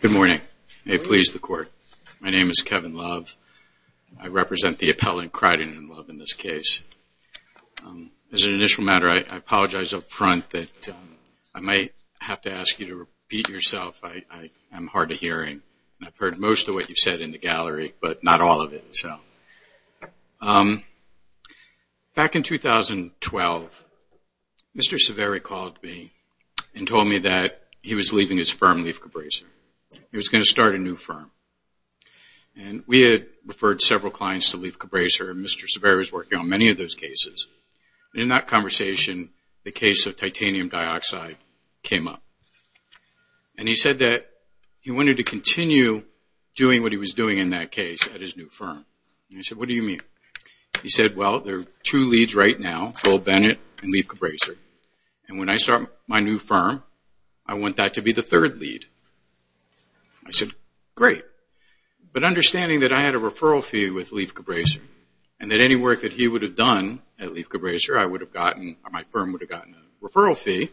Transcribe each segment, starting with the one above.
Good morning. Hey, please, the Court. My name is Kevin Love. I represent the appellant, Criden and Love, in this case. As an initial matter, I apologize up front that I might have to ask you to repeat yourself. I am hard of hearing, and I've heard most of what you've said in the gallery, but not all of it. Back in 2012, Mr. Saveri called me and told me that he was leaving his firm, Leaf Cabraser. He was going to start a new firm, and we had referred several clients to Leaf Cabraser, and Mr. Saveri was working on many of those cases. In that conversation, the case of titanium dioxide came up, and he said that he wanted to continue doing what he was doing in that case at his new firm. I said, what do you mean? He said, well, there are two leads right now, Bill Bennett and Leaf Cabraser, and when I start my new firm, I want that to be the third lead. I said, great, but understanding that I had a referral fee with Leaf Cabraser, and that any work that he would have done at Leaf Cabraser, I would have gotten, or my firm would have gotten a referral fee,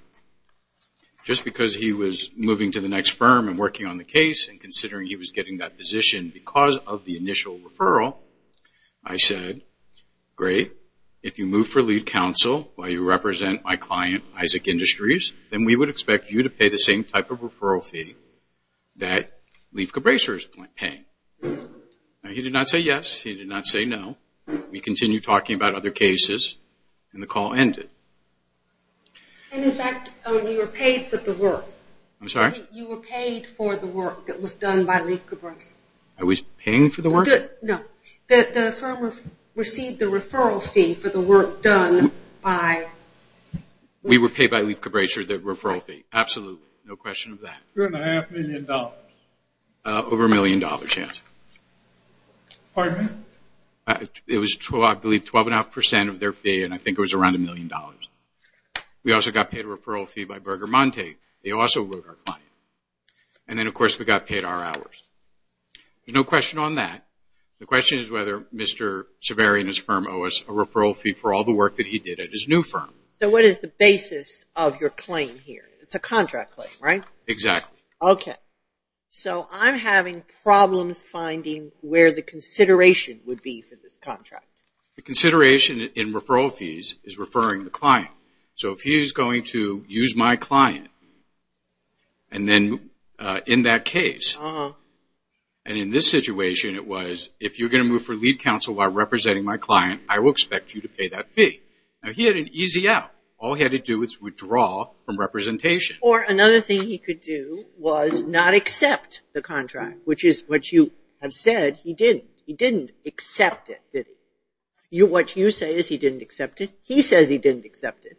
just because he was moving to the next firm and working on the case, and considering he was getting that position because of the initial referral, I said, great, if you move for lead counsel while you represent my client, Isaac Industries, then we would expect you to pay the same type of referral fee that Leaf Cabraser is paying. He did not say yes, he did not say no. We continued talking about other cases, and the call ended. In fact, you were paid for the work. I'm sorry? You were paid for the work that was done by Leaf Cabraser. I was paying for the work? No. The firm received the referral fee for the work done by Leaf Cabraser. We were paid by Leaf Cabraser the referral fee, absolutely, no question of that. Two and a half million dollars. Over a million dollars, yes. Pardon me? It was, I believe, 12 and a half percent of their fee, and I think it was around a million dollars. We also got paid a referral fee by Berger Monte. They also wrote our client. And then, of course, we got paid our hours. There's no question on that. The question is whether Mr. Civeri and his firm owe us a referral fee for all the work that he did at his new firm. So what is the basis of your claim here? It's a contract claim, right? Exactly. Okay. So I'm having problems finding where the consideration would be for this contract. The consideration in referral fees is referring the client. So if he's going to use my client, and then in that case, and in this situation it was, if you're going to move for lead counsel while representing my client, I will expect you to pay that fee. Now, he had an easy out. All he had to do was withdraw from representation. Or another thing he could do was not accept the contract, which is what you have said. He didn't. He didn't accept it, did he? What you say is he didn't accept it. He says he didn't accept it.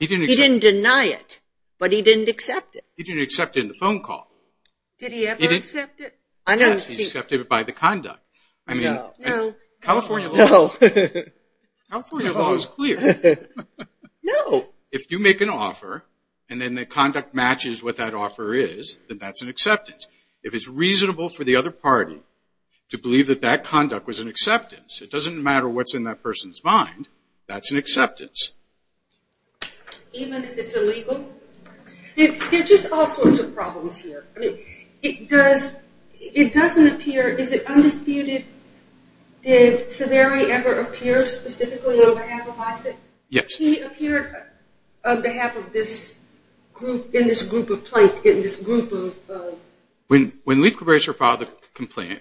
He didn't deny it, but he didn't accept it. He didn't accept it in the phone call. Did he ever accept it? Yes, he accepted it by the conduct. No. California law is clear. No. So if you make an offer, and then the conduct matches what that offer is, then that's an acceptance. If it's reasonable for the other party to believe that that conduct was an acceptance, it doesn't matter what's in that person's mind. That's an acceptance. Even if it's illegal? There are just all sorts of problems here. I mean, it doesn't appear, is it undisputed? Did Saveri ever appear specifically on behalf of Isaac? Yes. He appeared on behalf of this group, in this group of plaintiffs, in this group of... When Leith Cabrera filed the complaint,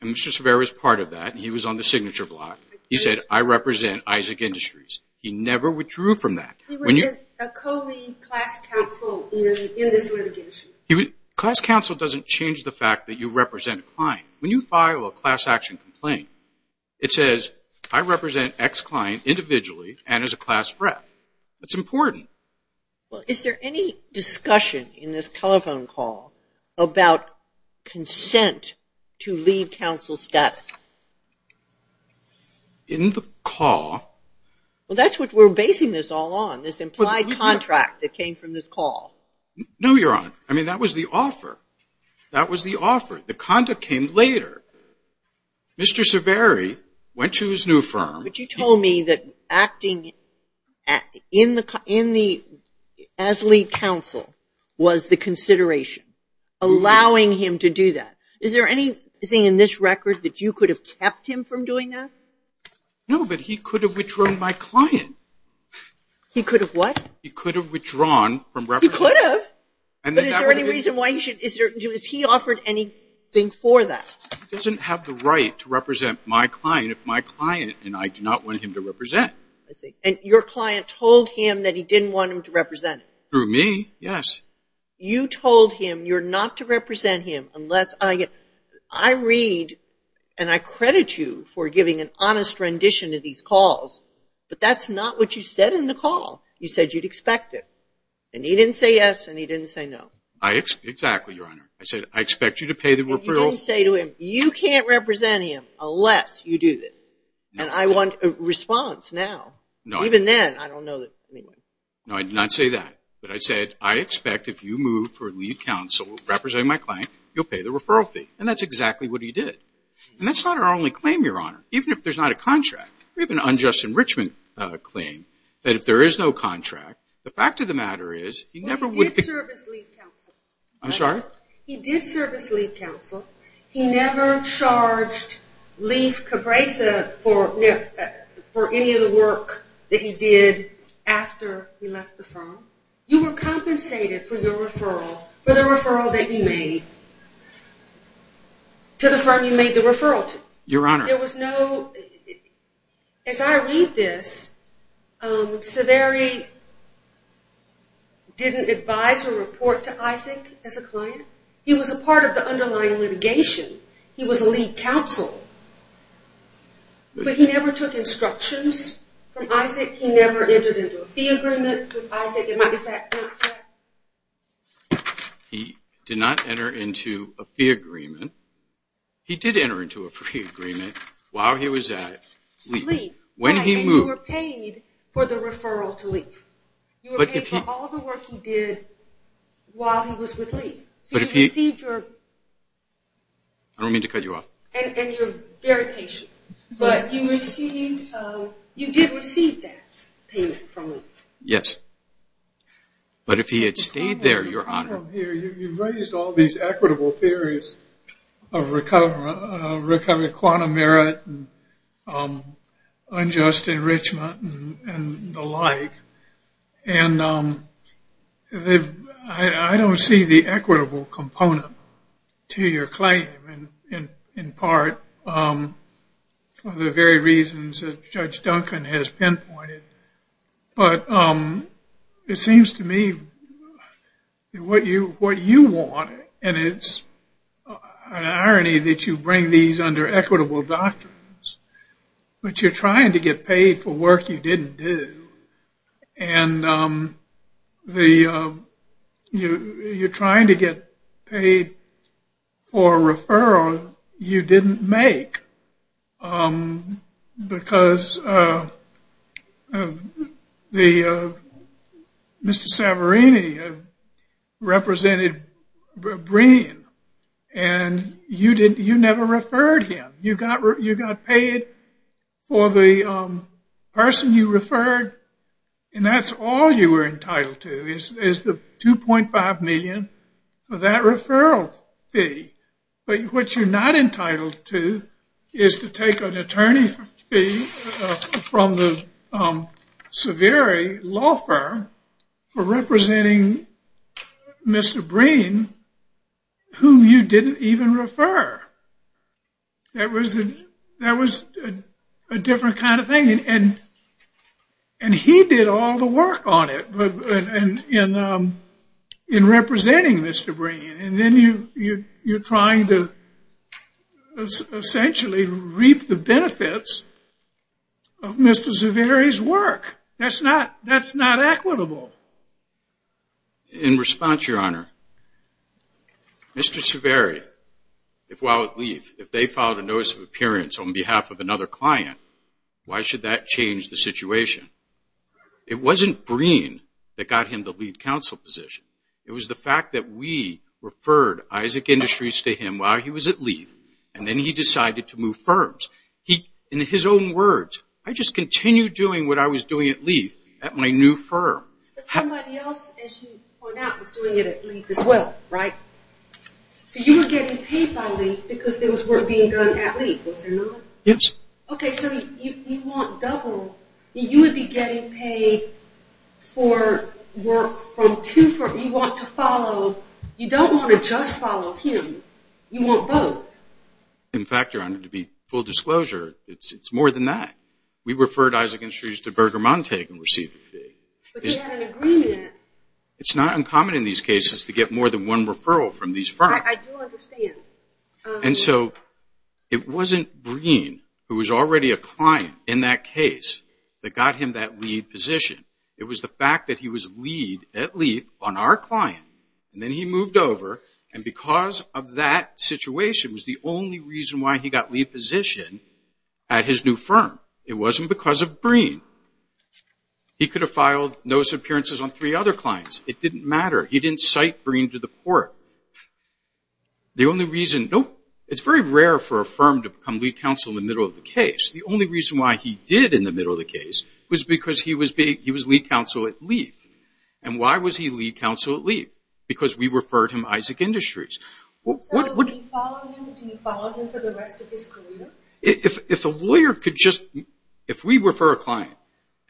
and Mr. Saveri was part of that, and he was on the signature block, he said, I represent Isaac Industries. He never withdrew from that. He was a co-lead class counsel in this litigation. Class counsel doesn't change the fact that you represent a client. When you file a class action complaint, it says, I represent X client individually and as a class rep. It's important. Well, is there any discussion in this telephone call about consent to lead counsel status? In the call... Well, that's what we're basing this all on, this implied contract that came from this call. No, Your Honor. I mean, that was the offer. That was the offer. The conduct came later. Mr. Saveri went to his new firm. But you told me that acting as lead counsel was the consideration, allowing him to do that. Is there anything in this record that you could have kept him from doing that? No, but he could have withdrawn my client. He could have what? He could have withdrawn from reference. He could have. But is there any reason why he should? Has he offered anything for that? He doesn't have the right to represent my client if my client and I do not want him to represent. I see. And your client told him that he didn't want him to represent him. Through me, yes. You told him you're not to represent him unless I get... I read and I credit you for giving an honest rendition of these calls. But that's not what you said in the call. You said you'd expect it. And he didn't say yes and he didn't say no. Exactly, Your Honor. I said, I expect you to pay the referral... And you didn't say to him, you can't represent him unless you do this. And I want a response now. Even then, I don't know that... No, I did not say that. But I said, I expect if you move for lead counsel representing my client, you'll pay the referral fee. And that's exactly what he did. And that's not our only claim, Your Honor. Even if there's not a contract. We have an unjust enrichment claim that if there is no contract, the fact of the matter is, he never would... He did service lead counsel. I'm sorry? He did service lead counsel. He never charged Leif Cabresa for any of the work that he did after he left the firm. You were compensated for your referral, for the referral that you made, to the firm you made the referral to. Your Honor. There was no... As I read this, Severi didn't advise or report to Isaac as a client. He was a part of the underlying litigation. He was a lead counsel. But he never took instructions from Isaac. He never entered into a fee agreement with Isaac. Is that... He did not enter into a fee agreement. He did enter into a fee agreement while he was at Leif. When he moved... And you were paid for the referral to Leif. You were paid for all the work he did while he was with Leif. So you received your... I don't mean to cut you off. And you're very patient. But you received... You did receive that payment from Leif. Yes. But if he had stayed there, Your Honor. You've raised all these equitable theories of recovery of quantum merit and unjust enrichment and the like. And I don't see the equitable component to your claim, in part for the very reasons that Judge Duncan has pinpointed. But it seems to me what you want, and it's an irony that you bring these under equitable doctrines, but you're trying to get paid for work you didn't do. And you're trying to get paid for a referral you didn't make. Because Mr. Savarini represented Breen, and you never referred him. You got paid for the person you referred, and that's all you were entitled to is the $2.5 million for that referral fee. But what you're not entitled to is to take an attorney fee from the Savarini law firm for representing Mr. Breen, whom you didn't even refer. That was a different kind of thing. And he did all the work on it in representing Mr. Breen. And then you're trying to essentially reap the benefits of Mr. Savarini's work. That's not equitable. In response, Your Honor, Mr. Savarini, if they filed a notice of appearance on behalf of another client, why should that change the situation? It wasn't Breen that got him the lead counsel position. It was the fact that we referred Isaac Industries to him while he was at LEAF, and then he decided to move firms. In his own words, I just continued doing what I was doing at LEAF at my new firm. But somebody else, as you point out, was doing it at LEAF as well, right? So you were getting paid by LEAF because there was work being done at LEAF, was there not? Yes. Okay, so you want double. You would be getting paid for work from two firms. You want to follow. You don't want to just follow him. You want both. In fact, Your Honor, to be full disclosure, it's more than that. We referred Isaac Industries to Berger Montague and received a fee. But they had an agreement. It's not uncommon in these cases to get more than one referral from these firms. I do understand. And so it wasn't Breen, who was already a client in that case, that got him that lead position. It was the fact that he was lead at LEAF on our client, and then he moved over, and because of that situation was the only reason why he got lead position at his new firm. It wasn't because of Breen. He could have filed notice of appearances on three other clients. It didn't matter. He didn't cite Breen to the court. It's very rare for a firm to become lead counsel in the middle of the case. The only reason why he did in the middle of the case was because he was lead counsel at LEAF. And why was he lead counsel at LEAF? Because we referred him Isaac Industries. So do you follow him for the rest of his career? If we refer a client,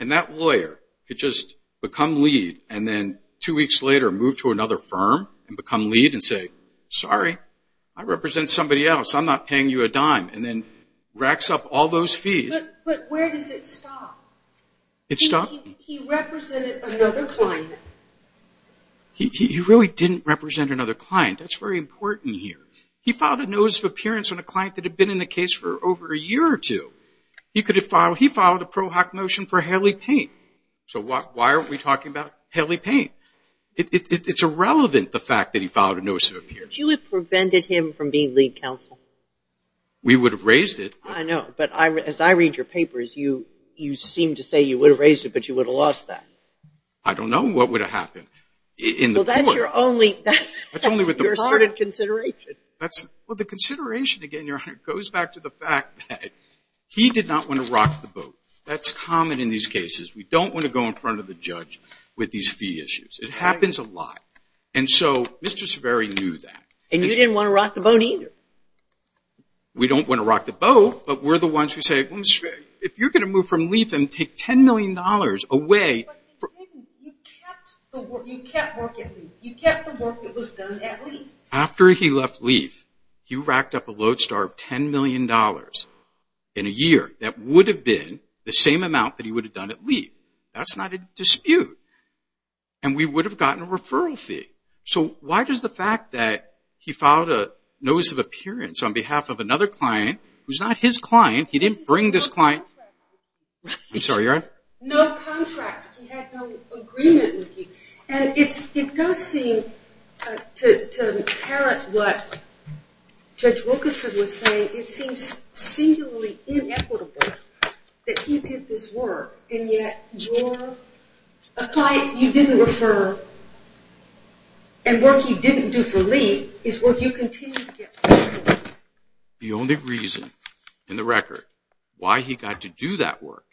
and that lawyer could just become lead, and then two weeks later move to another firm and become lead and say, sorry, I represent somebody else. I'm not paying you a dime, and then racks up all those fees. But where does it stop? It stops? He represented another client. He really didn't represent another client. That's very important here. He filed a notice of appearance on a client that had been in the case for over a year or two. He filed a pro hoc motion for Haley Paint. So why are we talking about Haley Paint? It's irrelevant, the fact that he filed a notice of appearance. Would you have prevented him from being lead counsel? We would have raised it. I know, but as I read your papers, you seem to say you would have raised it, but you would have lost that. I don't know. What would have happened? Well, that's your only part of consideration. Well, the consideration, again, Your Honor, goes back to the fact that he did not want to rock the boat. That's common in these cases. We don't want to go in front of the judge with these fee issues. It happens a lot. And so Mr. Severi knew that. And you didn't want to rock the boat either. We don't want to rock the boat, but we're the ones who say, if you're going to move from LEAF and take $10 million away. But you didn't. You kept the work. You kept work at LEAF. You kept the work that was done at LEAF. After he left LEAF, he racked up a load star of $10 million in a year. That would have been the same amount that he would have done at LEAF. That's not a dispute. And we would have gotten a referral fee. So why does the fact that he filed a notice of appearance on behalf of another client, who's not his client, he didn't bring this client. No contract. I'm sorry, Your Honor. No contract. He had no agreement with you. And it does seem, to inherit what Judge Wilkinson was saying, it seems singularly inequitable that he did this work, and yet you're a client you didn't refer, and work you didn't do for LEAF is work you continue to get for LEAF. The only reason in the record why he got to do that work,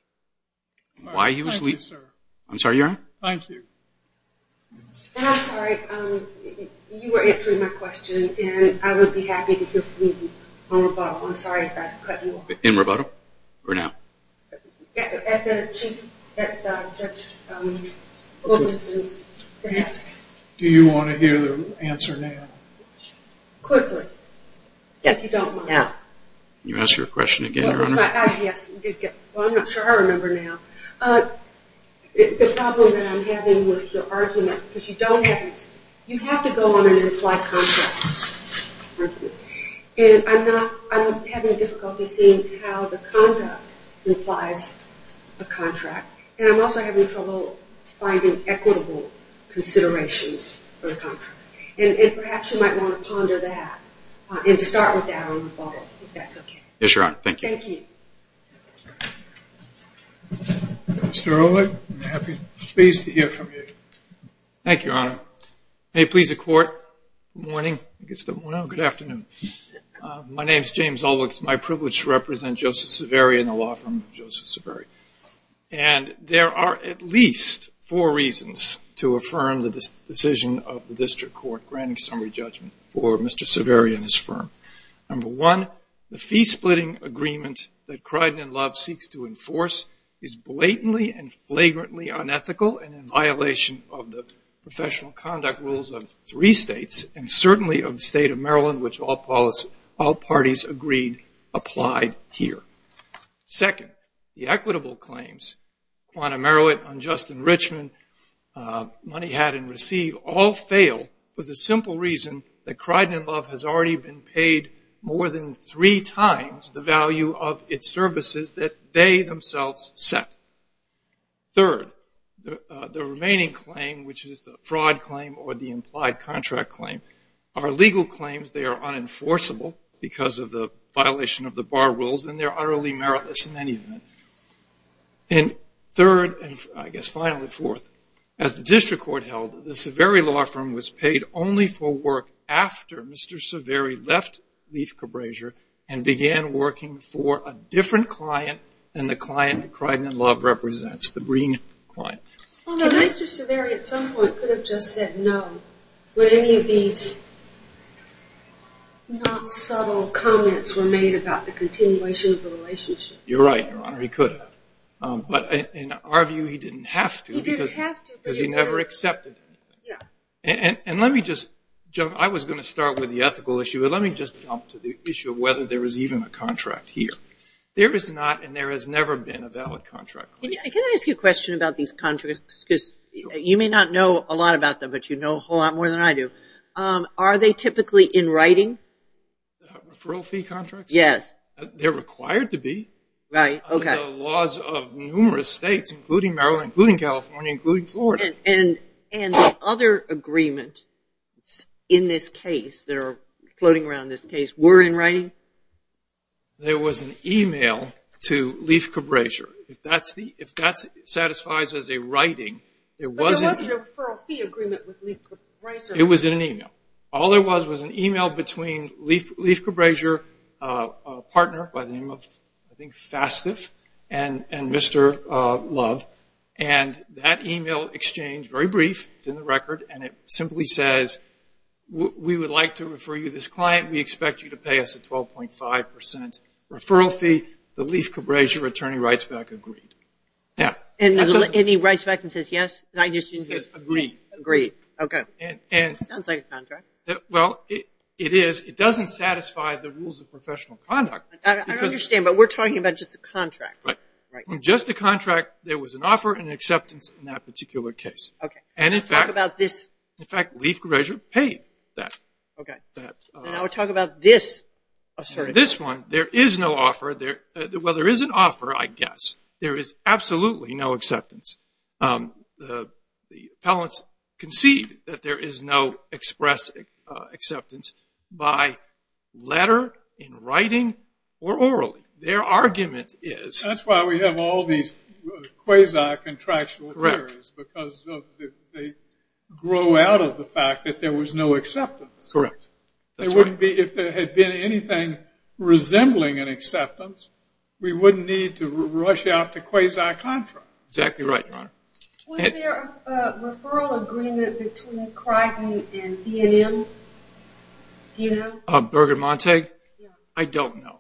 why he was LEAF. Thank you, sir. I'm sorry, Your Honor. Thank you. And I'm sorry, you were answering my question, and I would be happy to hear from you on rebuttal. I'm sorry if I cut you off. In rebuttal? At Judge Wilkinson's, perhaps. Do you want to hear the answer now? Quickly, if you don't mind. Can you ask your question again, Your Honor? Yes. Well, I'm not sure I remember now. The problem that I'm having with your argument, because you don't have, you have to go on and imply contracts. And I'm having difficulty seeing how the conduct implies a contract, and I'm also having trouble finding equitable considerations for the contract. And perhaps you might want to ponder that and start with that on rebuttal, if that's okay. Yes, Your Honor. Thank you. Thank you. Mr. Ehrlich, I'm pleased to hear from you. Thank you, Your Honor. May it please the Court. Good morning. Good afternoon. My name is James Ehrlich. It's my privilege to represent Joseph Saveri and the law firm of Joseph Saveri. And there are at least four reasons to affirm the decision of the district court granting summary judgment for Mr. Saveri and his firm. blatantly and flagrantly unethical, and in violation of the professional conduct rules of three states, and certainly of the state of Maryland, which all parties agreed applied here. Second, the equitable claims, quantum merit, unjust enrichment, money had and received, all fail for the simple reason that Criden & Love has already been paid more than three times the value of its services that they themselves set. Third, the remaining claim, which is the fraud claim or the implied contract claim, are legal claims. They are unenforceable because of the violation of the bar rules, and they're utterly meritless in any event. And third, and I guess finally fourth, as the district court held, the Saveri law firm was paid only for work after Mr. Saveri left Leaf Cabrasier and began working for a different client than the client that Criden & Love represents, the Green client. Although Mr. Saveri at some point could have just said no when any of these not subtle comments were made about the continuation of the relationship. You're right, Your Honor, he could have. But in our view, he didn't have to because he never accepted it. Yeah. And let me just jump, I was going to start with the ethical issue, but let me just jump to the issue of whether there is even a contract here. There is not and there has never been a valid contract claim. Can I ask you a question about these contracts? Because you may not know a lot about them, but you know a whole lot more than I do. Are they typically in writing? Referral fee contracts? Yes. They're required to be. Right. Okay. Under the laws of numerous states, including Maryland, including California, including Florida. And the other agreements in this case that are floating around this case were in writing? There was an e-mail to Leif Cabrasier. If that satisfies as a writing, there was an e-mail. But there wasn't a referral fee agreement with Leif Cabrasier. It was in an e-mail. All there was was an e-mail between Leif Cabrasier, a partner by the name of, I think, Fastiv, and Mr. Love. And that e-mail exchange, very brief, it's in the record, and it simply says, we would like to refer you to this client. We expect you to pay us a 12.5% referral fee. The Leif Cabrasier attorney writes back, agreed. Yeah. And he writes back and says, yes? He says, agreed. Agreed. Okay. Sounds like a contract. Well, it is. It doesn't satisfy the rules of professional conduct. I understand, but we're talking about just a contract. Right. Just a contract, there was an offer and acceptance in that particular case. Okay. And, in fact, Leif Cabrasier paid that. Okay. Now we're talking about this. This one, there is no offer. Well, there is an offer, I guess. There is absolutely no acceptance. The appellants concede that there is no express acceptance by letter, in writing, or orally. Their argument is. That's why we have all these quasi-contractual theories. Correct. Because they grow out of the fact that there was no acceptance. Correct. If there had been anything resembling an acceptance, we wouldn't need to rush out to quasi-contract. Exactly right, Your Honor. Was there a referral agreement between Crichton and B&M? Do you know? Berg and Montag? Yeah. I don't know.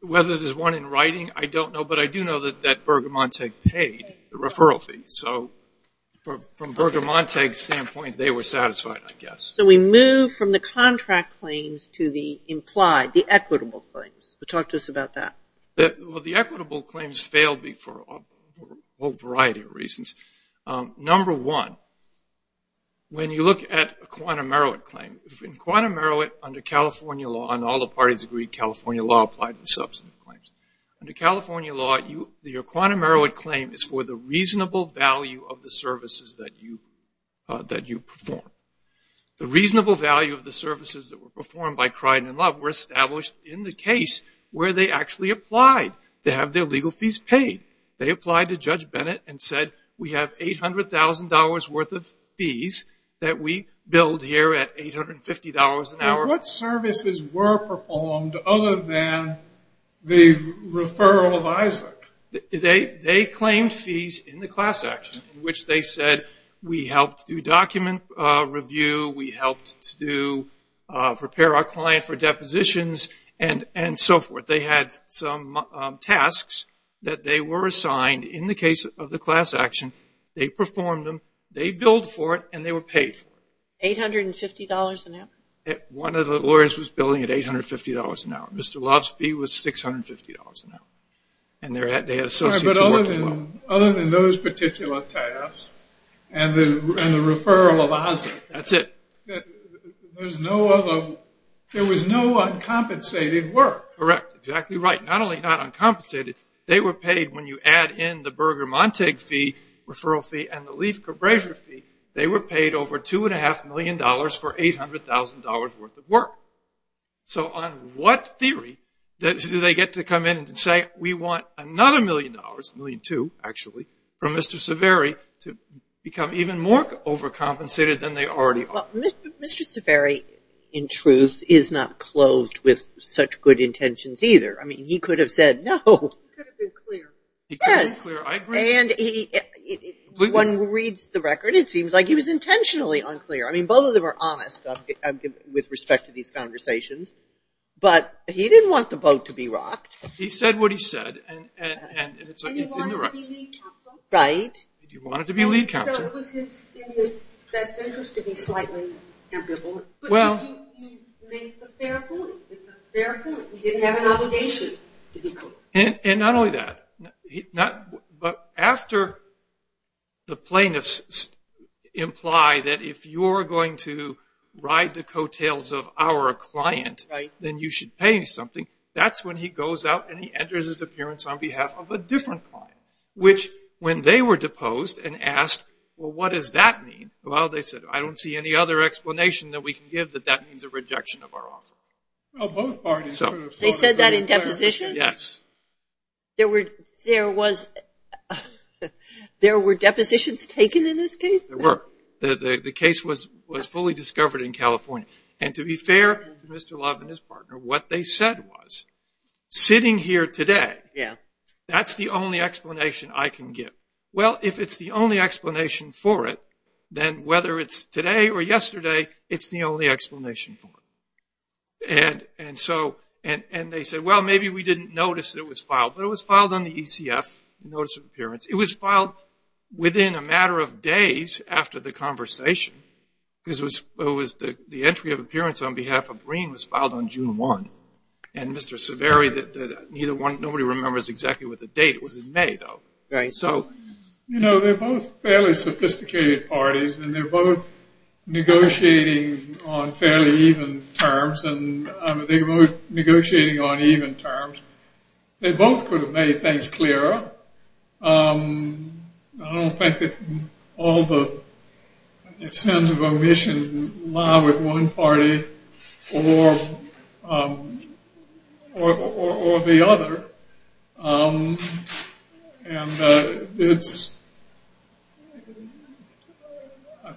Whether there's one in writing, I don't know. But I do know that Berg and Montag paid the referral fee. So, from Berg and Montag's standpoint, they were satisfied, I guess. So we move from the contract claims to the implied, the equitable claims. Talk to us about that. Well, the equitable claims failed me for a whole variety of reasons. Number one, when you look at a quantum merit claim, in quantum merit under California law, and all the parties agree California law applies to substantive claims. Under California law, your quantum merit claim is for the reasonable value of the services that you perform. The reasonable value of the services that were performed by Crichton and Love were established in the case where they actually applied to have their legal fees paid. They applied to Judge Bennett and said, we have $800,000 worth of fees that we billed here at $850 an hour. What services were performed other than the referral of Isaac? They claimed fees in the class action, which they said, we helped do document review, we helped to prepare our client for depositions, and so forth. But they had some tasks that they were assigned in the case of the class action. They performed them, they billed for it, and they were paid for it. $850 an hour? One of the lawyers was billing at $850 an hour. Mr. Love's fee was $650 an hour. And they had associates who worked as well. Other than those particular tasks and the referral of Isaac. That's it. There was no uncompensated work. Correct. Exactly right. Not only not uncompensated, they were paid, when you add in the Berger-Montague fee, referral fee, and the Leif-Gerbrasier fee, they were paid over $2.5 million for $800,000 worth of work. So on what theory do they get to come in and say, we want another million dollars, $1.2 million actually, from Mr. Saveri to become even more overcompensated than they already are? Well, Mr. Saveri, in truth, is not clothed with such good intentions either. I mean, he could have said no. He could have been clear. Yes. And one reads the record, it seems like he was intentionally unclear. I mean, both of them are honest with respect to these conversations. But he didn't want the boat to be rocked. He said what he said, and it's in the record. And he wanted to be lead counsel. Right. He wanted to be lead counsel. So it was in his best interest to be slightly ambivalent. But he made the fair point. It's a fair point. He didn't have an obligation to be clear. And not only that, but after the plaintiffs imply that if you're going to ride the coattails of our client, then you should pay me something, that's when he goes out and he enters his appearance on behalf of a different client, which when they were deposed and asked, well, what does that mean? Well, they said, I don't see any other explanation that we can give that that means a rejection of our offer. Well, both parties sort of thought it was fair. They said that in deposition? Yes. There were depositions taken in this case? There were. The case was fully discovered in California. And to be fair to Mr. Love and his partner, what they said was, sitting here today, that's the only explanation I can give. Well, if it's the only explanation for it, then whether it's today or yesterday, it's the only explanation for it. And they said, well, maybe we didn't notice it was filed. But it was filed on the ECF, notice of appearance. It was filed within a matter of days after the conversation. The entry of appearance on behalf of Green was filed on June 1. And Mr. Saveri, nobody remembers exactly what the date was in May, though. Right. You know, they're both fairly sophisticated parties, and they're both negotiating on fairly even terms, and they're both negotiating on even terms. They both could have made things clearer. I don't think that all the sins of omission lie with one party or the other. And it's ‑‑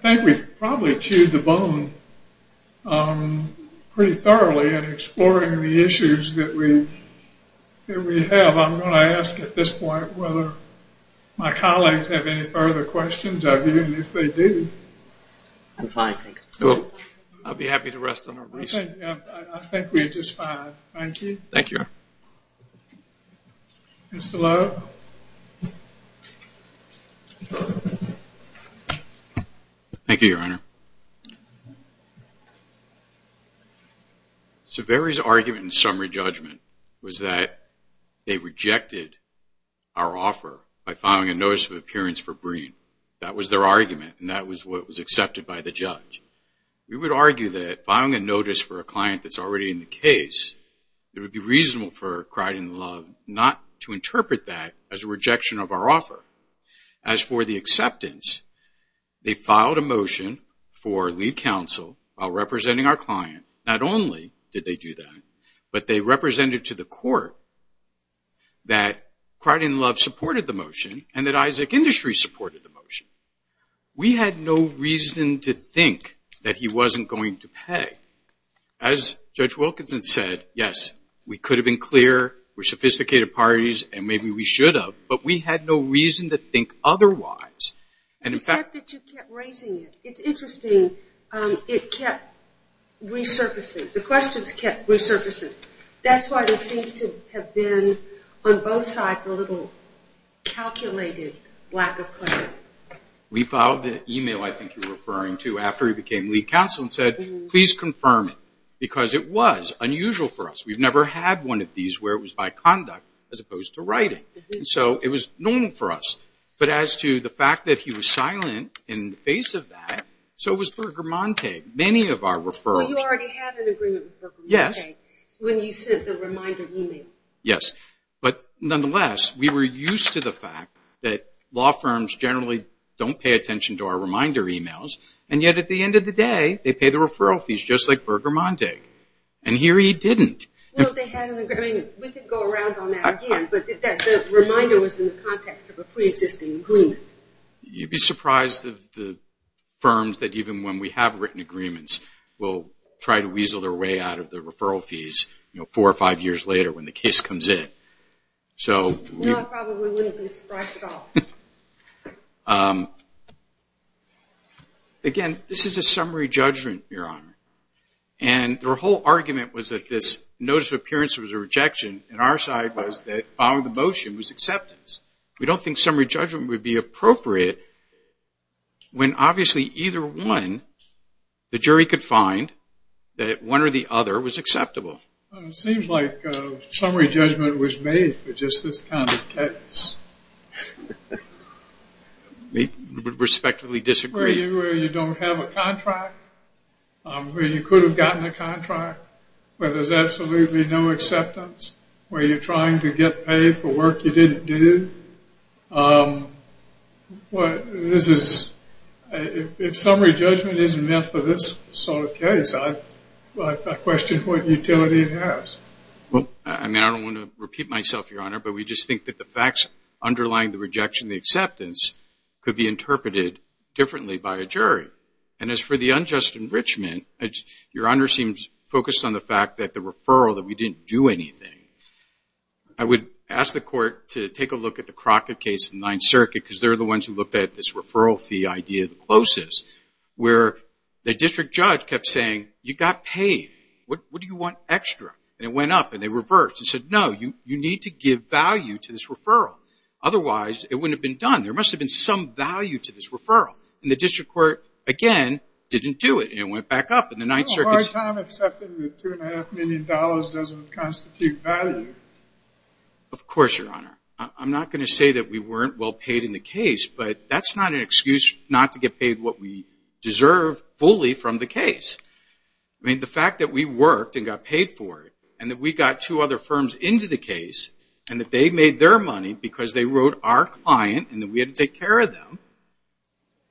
I think we've probably chewed the bone pretty thoroughly in exploring the issues that we have. Well, I'm going to ask at this point whether my colleagues have any further questions. I believe they do. I'm fine, thanks. I'll be happy to rest on our wreaths. I think we're just fine. Thank you. Thank you, Your Honor. Mr. Lowe. Thank you, Your Honor. Mr. Saveri's argument in summary judgment was that they rejected our offer by filing a notice of appearance for Green. That was their argument, and that was what was accepted by the judge. We would argue that filing a notice for a client that's already in the case, it would be reasonable for Pride and Love not to interpret that as a rejection of our offer. As for the acceptance, they filed a motion for lead counsel while representing our client. Not only did they do that, but they represented to the court that Pride and Love supported the motion and that Isaac Industries supported the motion. We had no reason to think that he wasn't going to pay. As Judge Wilkinson said, yes, we could have been clear, we're sophisticated parties, and maybe we should have, but we had no reason to think otherwise. Except that you kept raising it. It's interesting, it kept resurfacing. The questions kept resurfacing. That's why there seems to have been, on both sides, a little calculated lack of clarity. We filed an email, I think you're referring to, after he became lead counsel and said, please confirm it, because it was unusual for us. We've never had one of these where it was by conduct as opposed to writing. So it was normal for us. But as to the fact that he was silent in the face of that, so was Berger-Montague. Many of our referrals... Well, you already had an agreement with Berger-Montague when you sent the reminder email. Yes, but nonetheless, we were used to the fact that law firms generally don't pay attention to our reminder emails, and yet at the end of the day, they pay the referral fees, just like Berger-Montague. And here he didn't. Well, they had an agreement. We could go around on that again, but the reminder was in the context of a pre-existing agreement. You'd be surprised of the firms that even when we have written agreements, will try to weasel their way out of the referral fees four or five years later when the case comes in. No, I probably wouldn't be surprised at all. Again, this is a summary judgment, Your Honor. And their whole argument was that this notice of appearance was a rejection, and our side was that following the motion was acceptance. We don't think summary judgment would be appropriate when obviously either one, the jury could find that one or the other was acceptable. It seems like summary judgment was made for just this kind of case. We would respectively disagree. Where you don't have a contract, where you could have gotten a contract, where there's absolutely no acceptance, where you're trying to get paid for work you didn't do. If summary judgment isn't meant for this sort of case, I question what utility it has. I mean, I don't want to repeat myself, Your Honor, but we just think that the facts underlying the rejection, the acceptance, could be interpreted differently by a jury. And as for the unjust enrichment, Your Honor seems focused on the fact that the referral, that we didn't do anything. I would ask the court to take a look at the Crockett case in the Ninth Circuit because they're the ones who looked at this referral fee idea the closest, where the district judge kept saying, you got paid. What do you want extra? And it went up and they reversed. They said, no, you need to give value to this referral. Otherwise, it wouldn't have been done. There must have been some value to this referral. And the district court, again, didn't do it and it went back up in the Ninth Circuit. It's a hard time accepting that $2.5 million doesn't constitute value. Of course, Your Honor. I'm not going to say that we weren't well paid in the case, but that's not an excuse not to get paid what we deserve fully from the case. The fact that we worked and got paid for it and that we got two other firms into the case and that they made their money because they wrote our client and that we had to take care of them,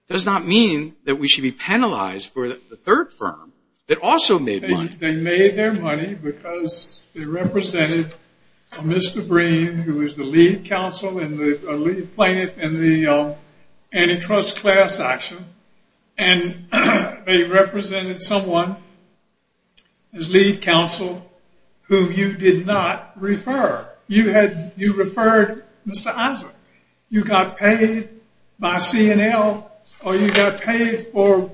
does not mean that we should be penalized for the third firm that also made money. They made their money because they represented Mr. Breen, who is the lead counsel and the lead plaintiff in the antitrust class action, and they represented someone as lead counsel whom you did not refer. You referred Mr. Issa. You got paid by C&L or you got paid for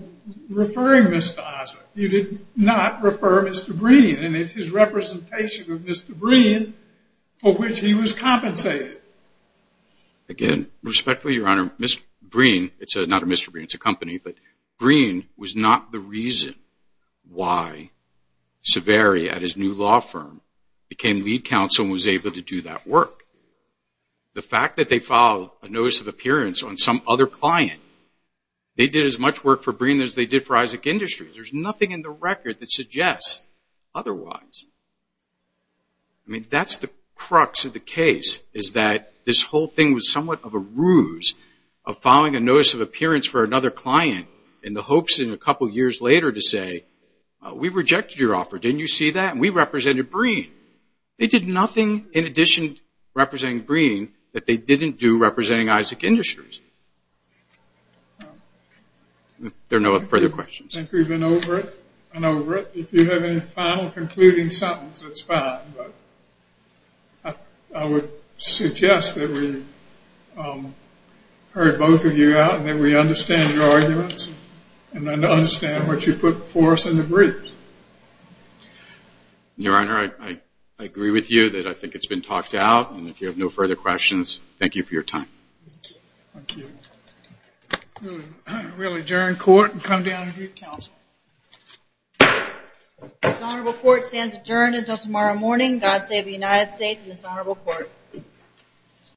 referring Mr. Issa. You did not refer Mr. Breen, and it's his representation of Mr. Breen for which he was compensated. Again, respectfully, Your Honor, Mr. Breen, it's not a Mr. Breen, it's a company, but Breen was not the reason why Severi at his new law firm became lead counsel and was able to do that work. The fact that they filed a notice of appearance on some other client, they did as much work for Breen as they did for Isaac Industries. There's nothing in the record that suggests otherwise. I mean, that's the crux of the case, is that this whole thing was somewhat of a ruse of filing a notice of appearance for another client in the hopes in a couple years later to say, we rejected your offer, didn't you see that? And we represented Breen. They did nothing in addition to representing Breen that they didn't do representing Isaac Industries. There are no further questions. I think we've been over it. If you have any final concluding sentences, that's fine. I would suggest that we heard both of you out and that we understand your arguments and understand what you put before us in the briefs. Your Honor, I agree with you that I think it's been talked out, and if you have no further questions, thank you for your time. Thank you. We'll adjourn court and come down to do counsel. This honorable court stands adjourned until tomorrow morning. God save the United States and this honorable court.